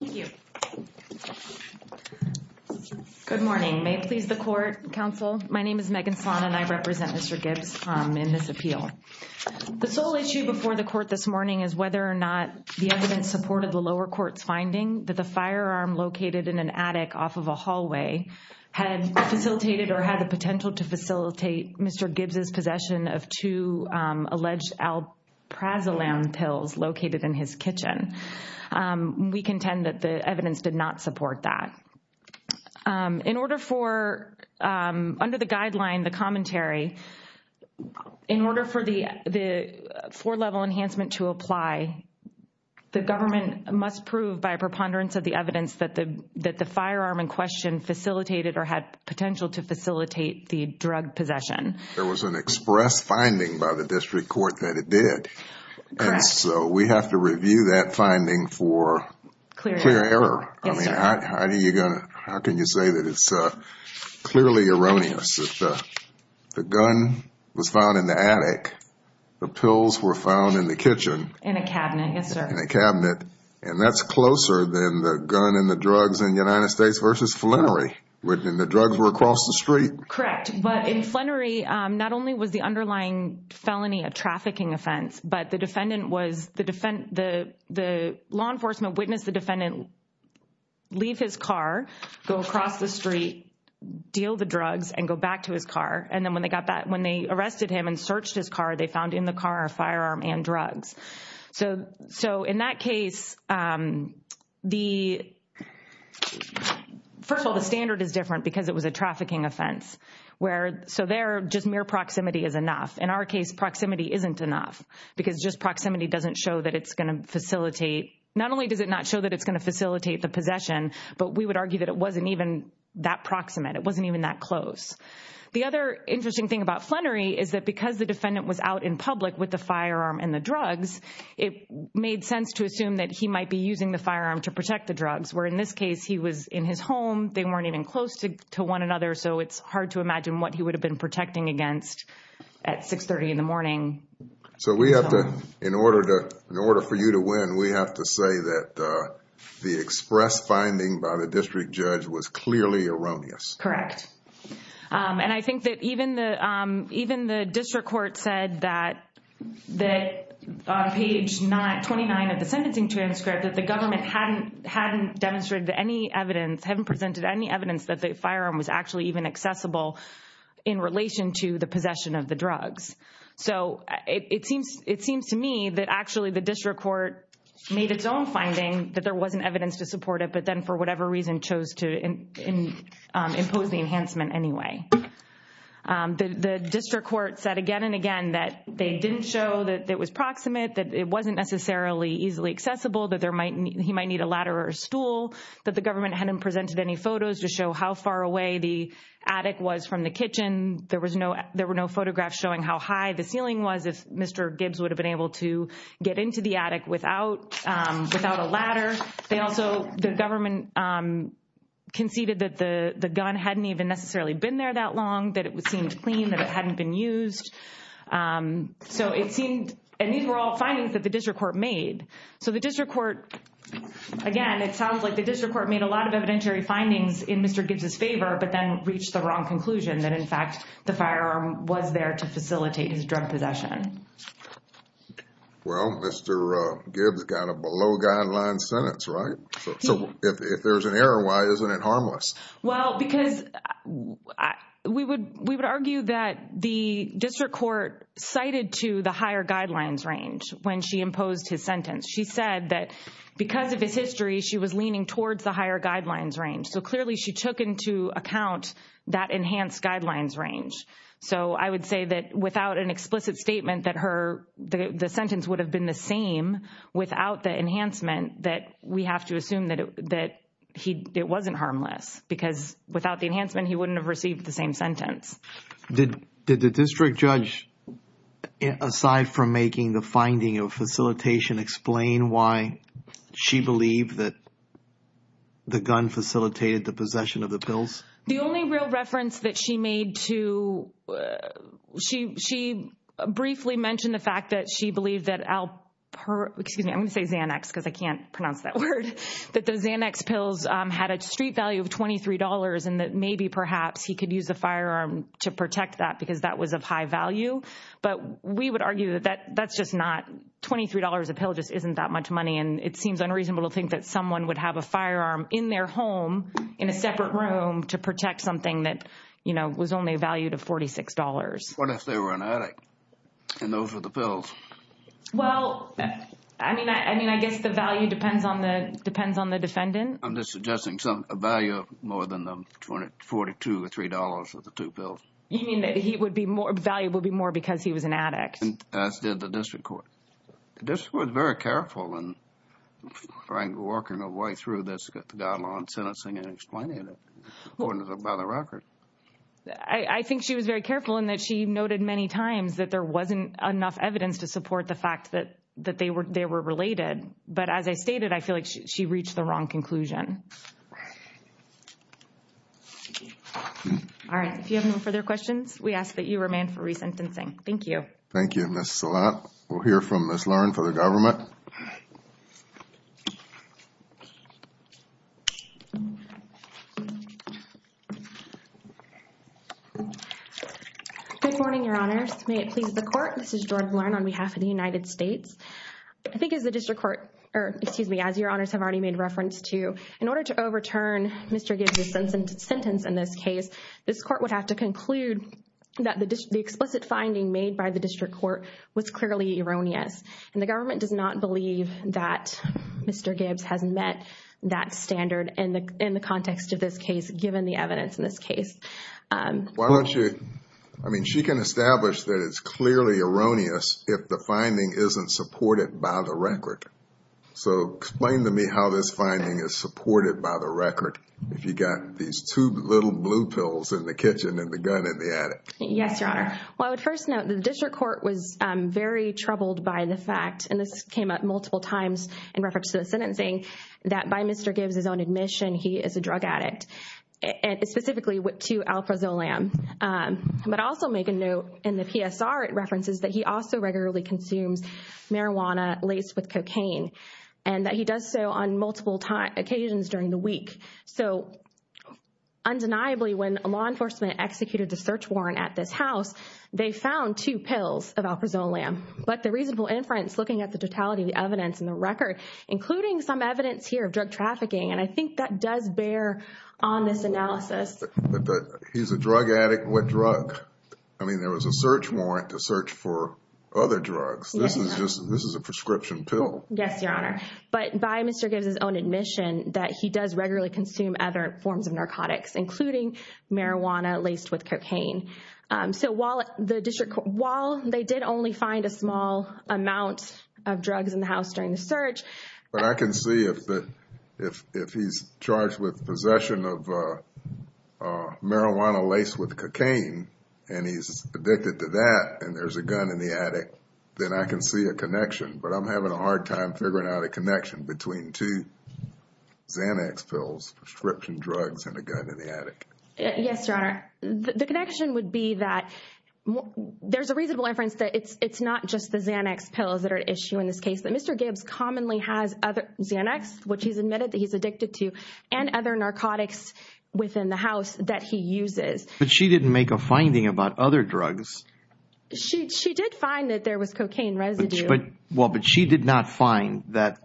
Thank you. Good morning. May it please the court, counsel. My name is Megan Salon and I represent Mr. Gibbs in this appeal. The sole issue before the court this morning is whether or not the evidence supported the lower court's finding that the firearm located in an attic off of a hallway had facilitated or had the potential to facilitate Mr. Gibbs' possession of two alleged Alprazolam pills located in his kitchen. We contend that the evidence did not support that. In order for, under the guideline, the commentary, in order for the four-level enhancement to apply, the government must prove by a preponderance of the evidence that the firearm in question facilitated or had potential to facilitate the drug possession. There was an express finding by the district court that it did. And so we have to review that finding for clear error. I mean, how can you say that it's clearly erroneous that the gun was found in the attic, the pills were found in the kitchen? In a cabinet, yes, sir. In a cabinet. And that's closer than the gun and the drugs in the United States versus Flannery, when the drugs were across the street. Correct. But in Flannery, not only was the underlying felony a trafficking offense, but the defendant was, the law enforcement witnessed the defendant leave his car, go across the street, deal the drugs and go back to his car. And then when they got back, when they arrested him and searched his car, they found in the car a firearm and drugs. So in that case, first of all, the standard is different because it was a trafficking offense. So there, just mere proximity is enough. In our case, proximity isn't enough because just proximity doesn't show that it's going to facilitate. Not only does it not show that it's going to facilitate the possession, but we would argue that it wasn't even that proximate. It wasn't even that close. The other interesting thing about Flannery is that because the defendant was out in public with the firearm and the drugs, it made sense to assume that he might be using the firearm to protect the drugs. Where in this case, he was in his home, they weren't even close to one another, so it's hard to imagine what he would have been protecting against at 630 in the morning. So we have to, in order for you to win, we have to say that the express finding by the district judge was clearly erroneous. Correct. And I think that even the district court said that on page 29 of the sentencing transcript that the government hadn't demonstrated any evidence, hadn't presented any evidence that the firearm was actually even accessible in relation to the possession of the drugs. So it seems to me that actually the district court made its own finding that there wasn't evidence to support it, but then for whatever reason chose to impose the enhancement anyway. The district court said again and again that they didn't show that it was proximate, that it wasn't necessarily easily accessible, that he might need a ladder or a stool, that the government hadn't presented any photos to show how far away the attic was from the kitchen. There were no photographs showing how high the ceiling was, if Mr. Gibbs would have been able to get into the attic without a ladder. They also, the government conceded that the gun hadn't even necessarily been there that long, that it seemed clean, that it hadn't been used. So it seemed, and these were all findings that the district court made. So the district court, again, it sounds like the district court made a lot of evidentiary findings in Mr. Gibbs' favor, but then reached the wrong conclusion that in fact the firearm was there to facilitate his drug possession. Well, Mr. Gibbs got a below guidelines sentence, right? So if there's an error, why isn't it harmless? Well, because we would argue that the district court cited to the higher guidelines range when she imposed his sentence. She said that because of his history, she was leaning towards the higher guidelines range. So clearly she took into account that enhanced guidelines range. So I would say that without an explicit statement that the sentence would have been the same without the enhancement, that we have to assume that it wasn't harmless. Because without the enhancement, he wouldn't have received the same sentence. Did the district judge, aside from making the finding of facilitation, explain why she believed that the gun facilitated the possession of the pills? The only real reference that she made to, she briefly mentioned the fact that she believed that, excuse me, I'm going to say Xanax because I can't pronounce that word, that the Xanax pills had a street value of $23 and that maybe perhaps he could use a firearm to protect that because that was of high value. But we would argue that that's just not, $23 a pill just isn't that much money. And it seems unreasonable to think that someone would have a firearm in their home, in a separate room, to protect something that, you know, was only valued at $46. What if they were an addict and those were the pills? Well, I mean, I guess the value depends on the defendant. I'm just suggesting a value of more than $42 or $3 for the two pills. You mean that the value would be more because he was an addict? As did the district court. The district court was very careful in, frankly, working her way through this guideline sentencing and explaining it, according to the record. I think she was very careful in that she noted many times that there wasn't enough evidence to support the fact that they were related. But as I stated, I feel like she reached the wrong conclusion. All right. If you have no further questions, we ask that you remain for resentencing. Thank you. Thank you, Ms. Salat. We'll hear from Ms. Lahren for the government. Good morning, Your Honors. May it please the Court. This is Jordan Lahren on behalf of the United States. I think as the district court, or excuse me, as Your Honors have already made reference to, in order to overturn Mr. Gibbs' sentence in this case, this court would have to conclude that the explicit finding made by the district court was clearly erroneous. And the government does not believe that Mr. Gibbs has met that standard in the context of this case, given the evidence in this case. Why don't you... I mean, she can establish that it's clearly erroneous if the finding isn't supported by the record. So explain to me how this finding is supported by the record, if you've got these two little blue pills in the kitchen and the gun in the attic. Yes, Your Honor. Well, I would first note the district court was very troubled by the fact, and this came up multiple times in reference to the sentencing, that by Mr. Gibbs' own admission, he is a drug addict. And specifically to Alprazolam. But I also make a note in the PSR references that he also regularly consumes marijuana laced with cocaine. And that he does so on multiple occasions during the week. So, undeniably, when law enforcement executed the search warrant at this house, they found two pills of Alprazolam. But the reasonable inference, looking at the totality of the evidence in the record, including some evidence here of drug trafficking, and I think that does bear on this analysis. But he's a drug addict, what drug? I mean, there was a search warrant to search for other drugs. This is a prescription pill. Yes, Your Honor. But by Mr. Gibbs' own admission, that he does regularly consume other forms of narcotics, including marijuana laced with cocaine. So while they did only find a small amount of drugs in the house during the search... But I can see if he's charged with possession of marijuana laced with cocaine, and he's addicted to that, and there's a gun in the attic, then I can see a connection. But I'm having a hard time figuring out a connection between two Xanax pills, prescription drugs, and a gun in the attic. Yes, Your Honor. The connection would be that there's a reasonable inference that it's not just the Xanax pills that are at issue in this case. That Mr. Gibbs commonly has Xanax, which he's admitted that he's addicted to, and other narcotics within the house that he uses. But she didn't make a finding about other drugs. She did find that there was cocaine residue. Well, but she did not find that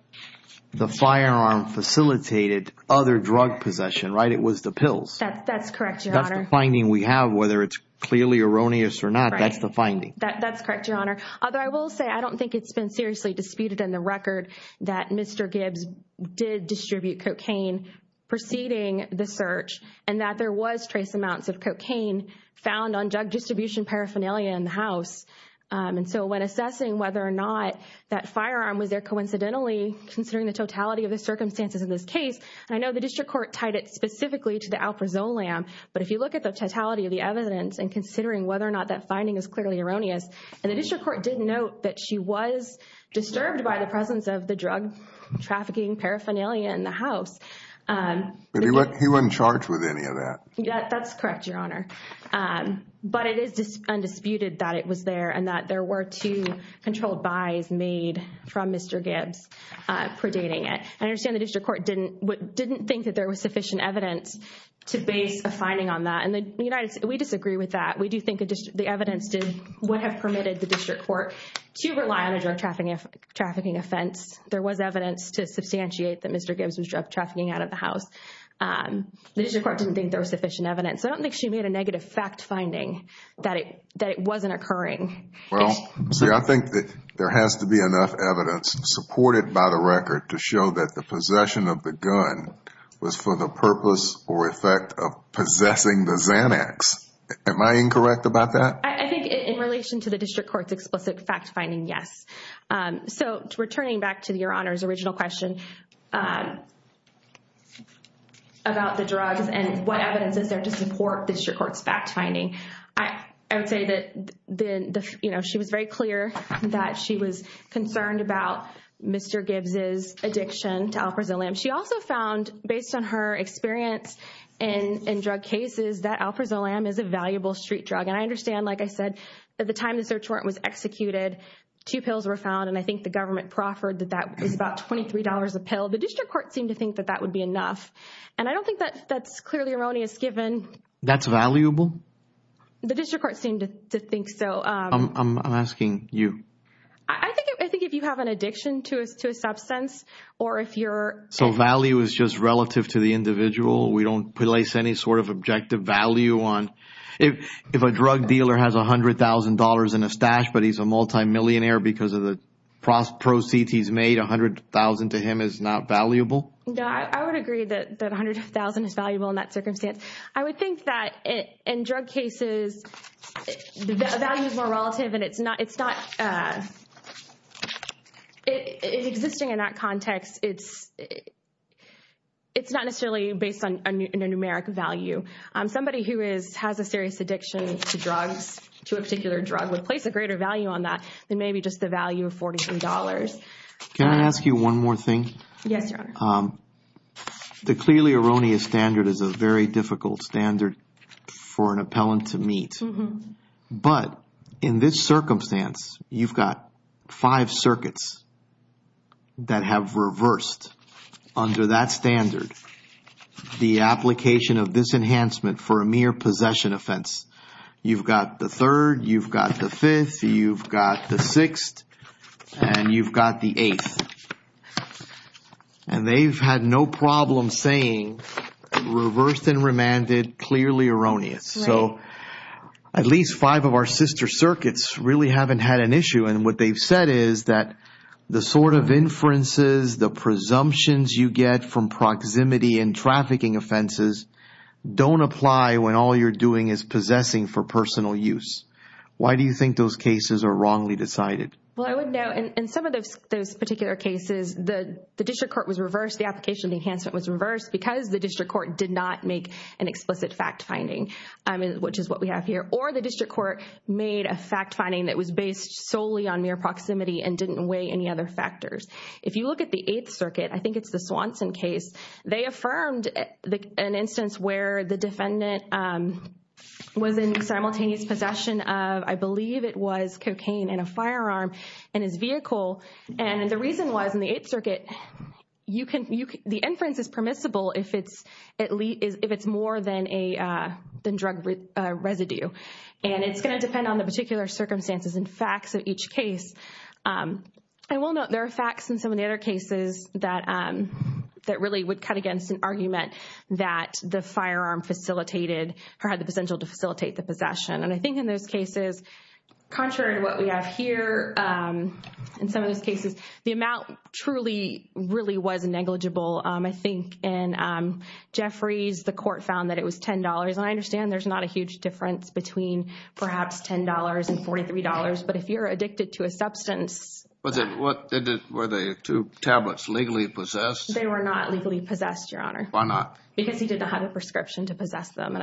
the firearm facilitated other drug possession, right? It was the pills. That's correct, Your Honor. That's the finding we have, whether it's clearly erroneous or not. That's the finding. That's correct, Your Honor. Although I will say I don't think it's been seriously disputed in the record that Mr. Gibbs did distribute cocaine preceding the search, and that there was trace amounts of cocaine found on drug distribution paraphernalia in the house. And so when assessing whether or not that firearm was there coincidentally, considering the totality of the circumstances in this case, I know the district court tied it specifically to the Alprazolam, but if you look at the totality of the evidence and considering whether or not that finding is clearly erroneous, and the district court did note that she was disturbed by the presence of the drug trafficking paraphernalia in the house. But he wasn't charged with any of that. That's correct, Your Honor. But it is undisputed that it was there and that there were two controlled buys made from Mr. Gibbs predating it. I understand the district court didn't think that there was sufficient evidence to base a finding on that, and we disagree with that. We do think the evidence would have permitted the district court to rely on a drug trafficking offense. There was evidence to substantiate that Mr. Gibbs was drug trafficking out of the house. The district court didn't think there was sufficient evidence. I don't think she made a negative fact finding that it wasn't occurring. Well, see, I think that there has to be enough evidence supported by the record to show that the possession of the gun was for the purpose or effect of possessing the Xanax. Am I incorrect about that? I think in relation to the district court's explicit fact finding, yes. So returning back to Your Honor's original question about the drugs and what evidence is there to support the district court's fact finding, I would say that she was very clear that she was concerned about Mr. Gibbs' addiction to Alprazolam. She also found, based on her experience in drug cases, that Alprazolam is a valuable street drug. And I understand, like I said, at the time the search warrant was executed, two pills were found, and I think the government proffered that that was about $23 a pill. The district court seemed to think that that would be enough, and I don't think that's clearly erroneous given. That's valuable? The district court seemed to think so. I'm asking you. I think if you have an addiction to a substance or if you're So value is just relative to the individual. We don't place any sort of objective value on If a drug dealer has $100,000 in his stash but he's a multimillionaire because of the proceeds he's made, $100,000 to him is not valuable? No, I would agree that $100,000 is valuable in that circumstance. I would think that in drug cases, value is more relative and it's not It's existing in that context. It's not necessarily based on a numeric value. Somebody who has a serious addiction to drugs, to a particular drug, would place a greater value on that than maybe just the value of $43. Yes, Your Honor. The clearly erroneous standard is a very difficult standard for an appellant to meet. But in this circumstance, you've got five circuits that have reversed under that standard the application of this enhancement for a mere possession offense. You've got the third, you've got the fifth, you've got the sixth, and you've got the eighth. And they've had no problem saying reversed and remanded clearly erroneous. So at least five of our sister circuits really haven't had an issue. And what they've said is that the sort of inferences, the presumptions you get from proximity and trafficking offenses don't apply when all you're doing is possessing for personal use. Why do you think those cases are wrongly decided? Well, I would note in some of those particular cases, the district court was reversed. The application of the enhancement was reversed because the district court did not make an explicit fact finding, which is what we have here. Or the district court made a fact finding that was based solely on mere proximity and didn't weigh any other factors. If you look at the eighth circuit, I think it's the Swanson case, they affirmed an instance where the defendant was in simultaneous possession of, I believe it was cocaine in a firearm in his vehicle. And the reason was in the eighth circuit, the inference is permissible if it's more than drug residue. And it's going to depend on the particular circumstances and facts of each case. I will note there are facts in some of the other cases that really would cut against an argument that the firearm facilitated or had the potential to facilitate the possession. And I think in those cases, contrary to what we have here, in some of those cases, the amount truly really was negligible. I think in Jeffrey's, the court found that it was $10. And I understand there's not a huge difference between perhaps $10 and $43. But if you're addicted to a substance. Were the two tablets legally possessed? They were not legally possessed, Your Honor. Why not? Because he did not have a prescription to possess them.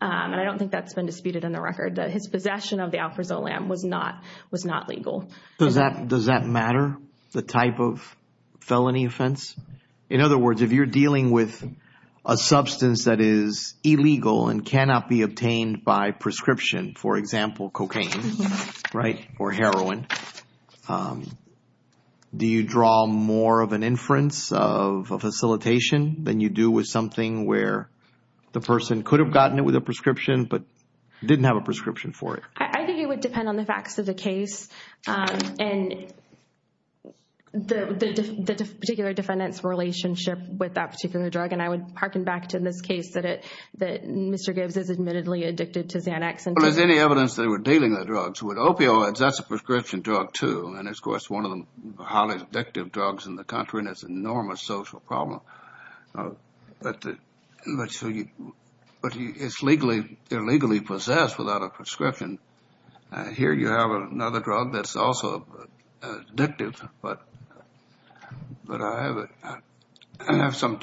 And I don't think that's been disputed in the record. His possession of the Alprazolam was not legal. Does that matter, the type of felony offense? In other words, if you're dealing with a substance that is illegal and cannot be obtained by prescription, for example, cocaine, right, or heroin, do you draw more of an inference of a facilitation than you do with something where the person could have gotten it with a prescription but didn't have a prescription for it? I think it would depend on the facts of the case and the particular defendant's relationship with that particular drug. And I would hearken back to this case that Mr. Gibbs is admittedly addicted to Xanax. Well, there's any evidence they were dealing with drugs. With opioids, that's a prescription drug, too. And it's, of course, one of the highly addictive drugs in the country and it's an enormous social problem. But it's legally possessed without a prescription. Here you have another drug that's also addictive. But I have some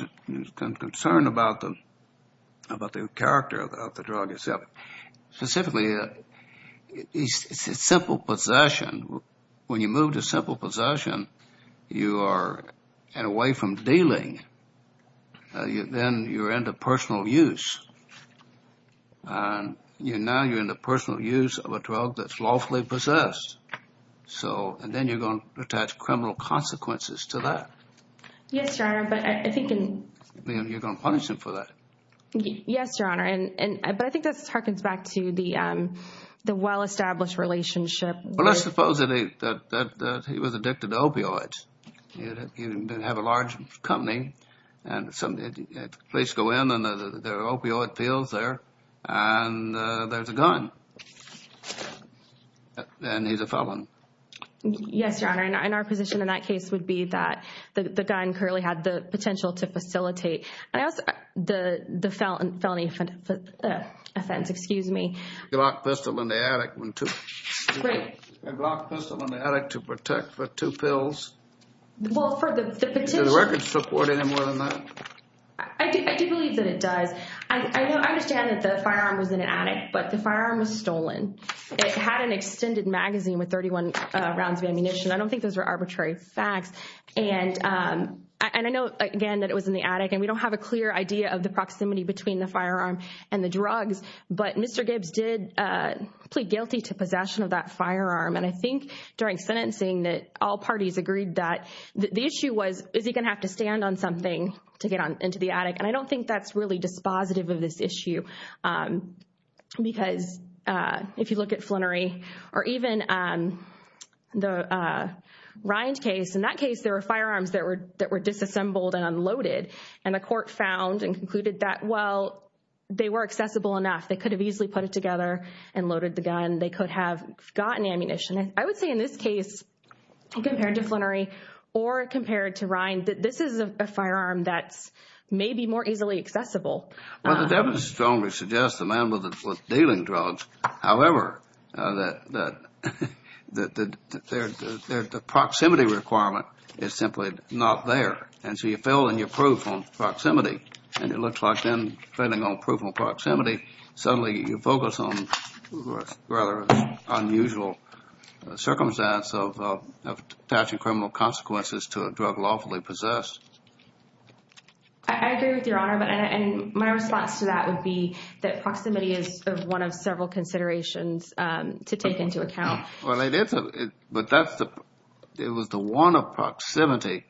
concern about the character of the drug itself. Specifically, it's a simple possession. When you move to simple possession, you are away from dealing. Then you're into personal use. Now you're in the personal use of a drug that's lawfully possessed. And then you're going to attach criminal consequences to that. Yes, Your Honor. You're going to punish him for that. Yes, Your Honor. But I think this hearkens back to the well-established relationship. Well, let's suppose that he was addicted to opioids. You have a large company and the police go in and there are opioid fields there and there's a gun. And he's a felon. Yes, Your Honor. And our position in that case would be that the gun clearly had the potential to facilitate. The felony offense, excuse me. He locked the pistol in the attic. Right. He locked the pistol in the attic to protect for two pills. Well, for the potential. Does the record support any more than that? I do believe that it does. I understand that the firearm was in an attic, but the firearm was stolen. It had an extended magazine with 31 rounds of ammunition. I don't think those are arbitrary facts. And I know, again, that it was in the attic. And we don't have a clear idea of the proximity between the firearm and the drugs. But Mr. Gibbs did plead guilty to possession of that firearm. And I think during sentencing that all parties agreed that the issue was, is he going to have to stand on something to get into the attic? And I don't think that's really dispositive of this issue. Because if you look at Flannery or even the Rind case, in that case, there were firearms that were disassembled and unloaded. And the court found and concluded that, well, they were accessible enough. They could have easily put it together and loaded the gun. They could have gotten ammunition. I would say in this case, compared to Flannery or compared to Rind, that this is a firearm that's maybe more easily accessible. Well, the evidence strongly suggests the man was dealing drugs. However, the proximity requirement is simply not there. And so you fail in your proof on proximity. And it looks like then, failing on proof on proximity, suddenly you focus on a rather unusual circumstance of attaching criminal consequences to a drug lawfully possessed. I agree with Your Honor. And my response to that would be that proximity is one of several considerations to take into account. Well, it is. But that's the, it was the one of proximity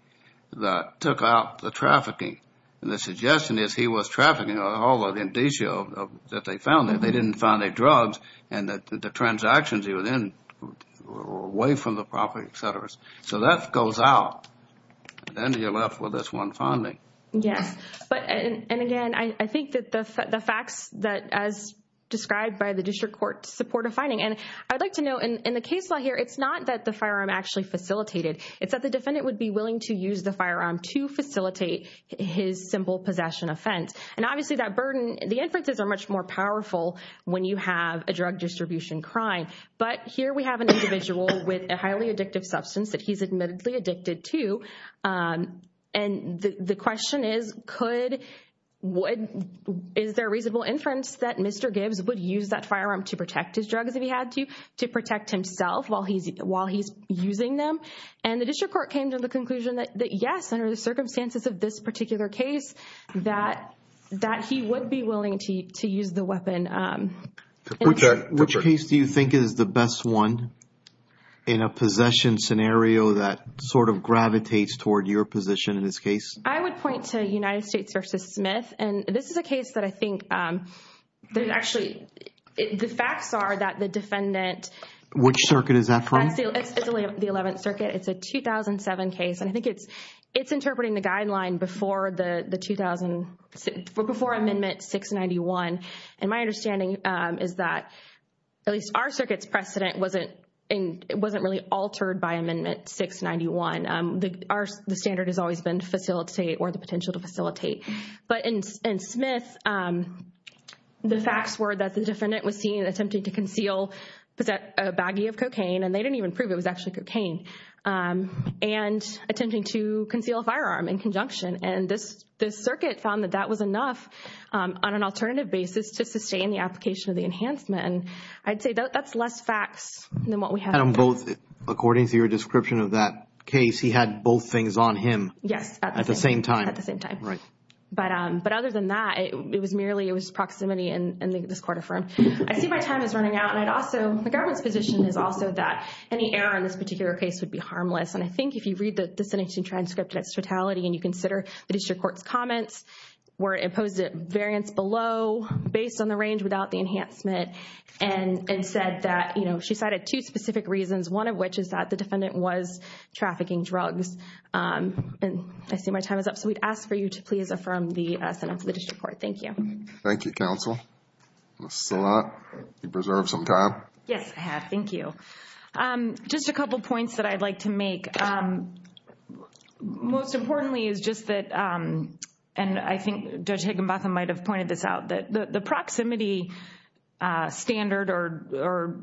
that took out the trafficking. And the suggestion is he was trafficking all of the indicio that they found. They didn't find any drugs. And the transactions he was in were away from the property, et cetera. So that goes out. Then you're left with this one finding. Yes. But, and again, I think that the facts that, as described by the district court, support a finding. And I'd like to note, in the case law here, it's not that the firearm actually facilitated. It's that the defendant would be willing to use the firearm to facilitate his simple possession offense. And obviously that burden, the inferences are much more powerful when you have a drug distribution crime. But here we have an individual with a highly addictive substance that he's admittedly addicted to. And the question is, could, would, is there reasonable inference that Mr. Gibbs would use that firearm to protect his drugs if he had to, to protect himself while he's using them? And the district court came to the conclusion that, yes, under the circumstances of this particular case, Which case do you think is the best one in a possession scenario that sort of gravitates toward your position in this case? I would point to United States v. Smith. And this is a case that I think that actually, the facts are that the defendant, Which circuit is that from? It's the 11th Circuit. It's a 2007 case. And I think it's interpreting the guideline before the 2000, before Amendment 691. And my understanding is that at least our circuit's precedent wasn't really altered by Amendment 691. The standard has always been facilitate or the potential to facilitate. But in Smith, the facts were that the defendant was seen attempting to conceal a baggie of cocaine. And they didn't even prove it was actually cocaine. And attempting to conceal a firearm in conjunction. And this circuit found that that was enough on an alternative basis to sustain the application of the enhancement. And I'd say that's less facts than what we have. And on both, according to your description of that case, he had both things on him. Yes. At the same time. At the same time. Right. But other than that, it was merely, it was proximity and the court affirmed. I see my time is running out. And I'd also, the government's position is also that any error in this particular case would be harmless. And I think if you read the sentencing transcript and its totality and you consider the district court's comments. Where it posed a variance below based on the range without the enhancement. And said that, you know, she cited two specific reasons. One of which is that the defendant was trafficking drugs. And I see my time is up. So we'd ask for you to please affirm the sentence of the district court. Thank you. Thank you, counsel. That's a lot. You preserved some time. Yes, I have. Thank you. Just a couple points that I'd like to make. Most importantly is just that, and I think Judge Higginbotham might have pointed this out. That the proximity standard or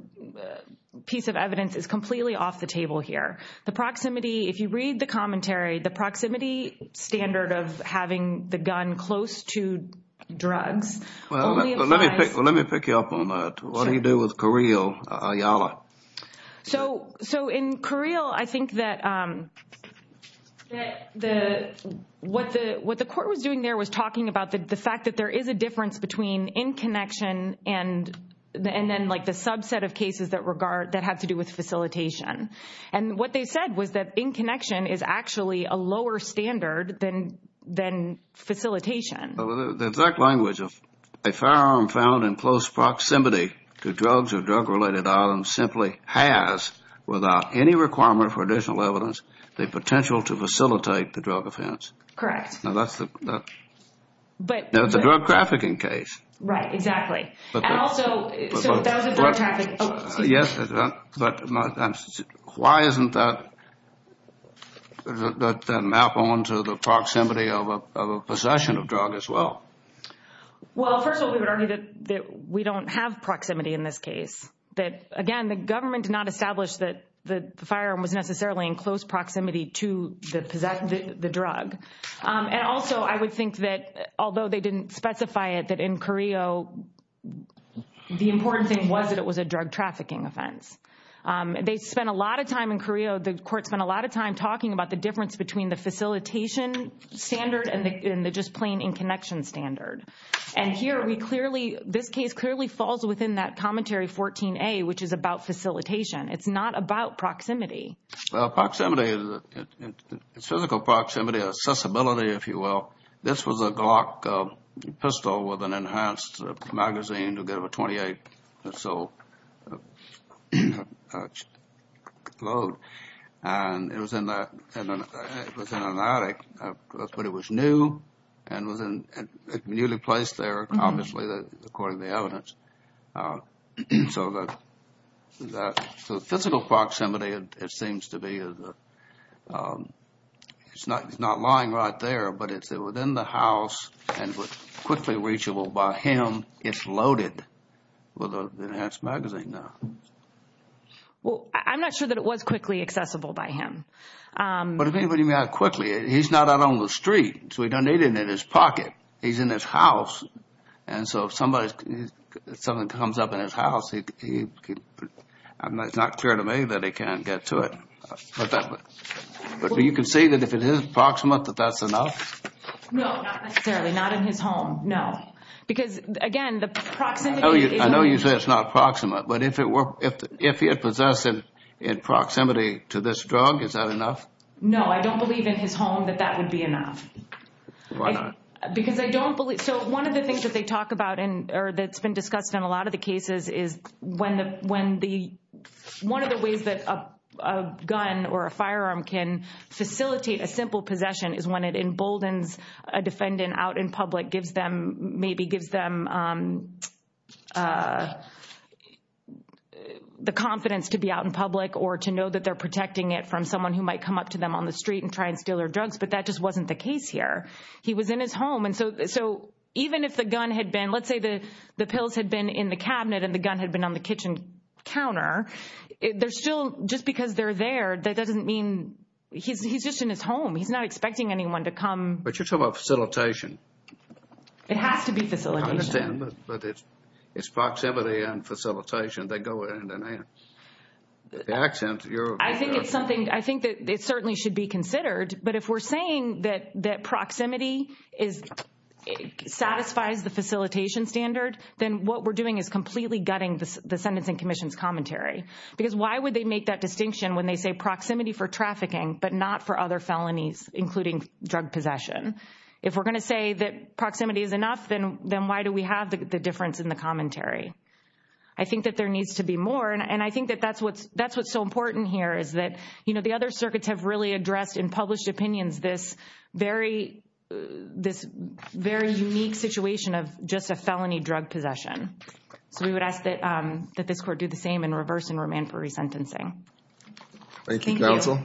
piece of evidence is completely off the table here. The proximity, if you read the commentary, the proximity standard of having the gun close to drugs. Well, let me pick you up on that. What do you do with Carril Ayala? So in Carril, I think that what the court was doing there was talking about the fact that there is a difference between in connection and then like the subset of cases that have to do with facilitation. And what they said was that in connection is actually a lower standard than facilitation. The exact language of a firearm found in close proximity to drugs or drug-related items simply has, without any requirement for additional evidence, the potential to facilitate the drug offense. Correct. Now that's the drug trafficking case. Right, exactly. And also, so that was about trafficking. Yes, but why isn't that map on to the proximity of a possession of drug as well? Well, first of all, we don't have proximity in this case. Again, the government did not establish that the firearm was necessarily in close proximity to the drug. And also, I would think that although they didn't specify it, that in Carril, the important thing was that it was a drug trafficking offense. They spent a lot of time in Carril, the court spent a lot of time talking about the difference between the facilitation standard and the just plain in connection standard. And here, this case clearly falls within that commentary 14A, which is about facilitation. It's not about proximity. Well, proximity is physical proximity, accessibility, if you will. This was a Glock pistol with an enhanced magazine to give a 28-pistol load. And it was in an attic, but it was new and it was newly placed there, obviously, according to the evidence. So the physical proximity, it seems to be, it's not lying right there, but it's within the house and quickly reachable by him. It's loaded with an enhanced magazine now. Well, I'm not sure that it was quickly accessible by him. But if anybody got it quickly, he's not out on the street, so he doesn't need it in his pocket. He's in his house, and so if something comes up in his house, it's not clear to me that he can't get to it. But you can see that if it is proximate, that that's enough? No, not necessarily, not in his home, no. Because, again, the proximity is limited. I know you say it's not proximate, but if he had possessed it in proximity to this drug, is that enough? No, I don't believe in his home that that would be enough. Why not? Because I don't believe, so one of the things that they talk about, or that's been discussed in a lot of the cases, is when the, one of the ways that a gun or a firearm can facilitate a simple possession is when it emboldens a defendant out in public, gives them, maybe gives them the confidence to be out in public or to know that they're protecting it from someone who might come up to them on the street and try and steal their drugs. But that just wasn't the case here. He was in his home, and so even if the gun had been, let's say the pills had been in the cabinet and the gun had been on the kitchen counter, there's still, just because they're there, that doesn't mean, he's just in his home, he's not expecting anyone to come. But you're talking about facilitation. It has to be facilitation. I understand, but it's proximity and facilitation that go hand in hand. The accent, you're... I think it's something, I think that it certainly should be considered, but if we're saying that proximity satisfies the facilitation standard, then what we're doing is completely gutting the Sentencing Commission's commentary. Because why would they make that distinction when they say proximity for trafficking, but not for other felonies, including drug possession? If we're going to say that proximity is enough, then why do we have the difference in the commentary? I think that there needs to be more, and I think that that's what's so important here, is that the other circuits have really addressed in published opinions this very unique situation of just a felony drug possession. So we would ask that this court do the same in reverse and remand for resentencing. Thank you, counsel.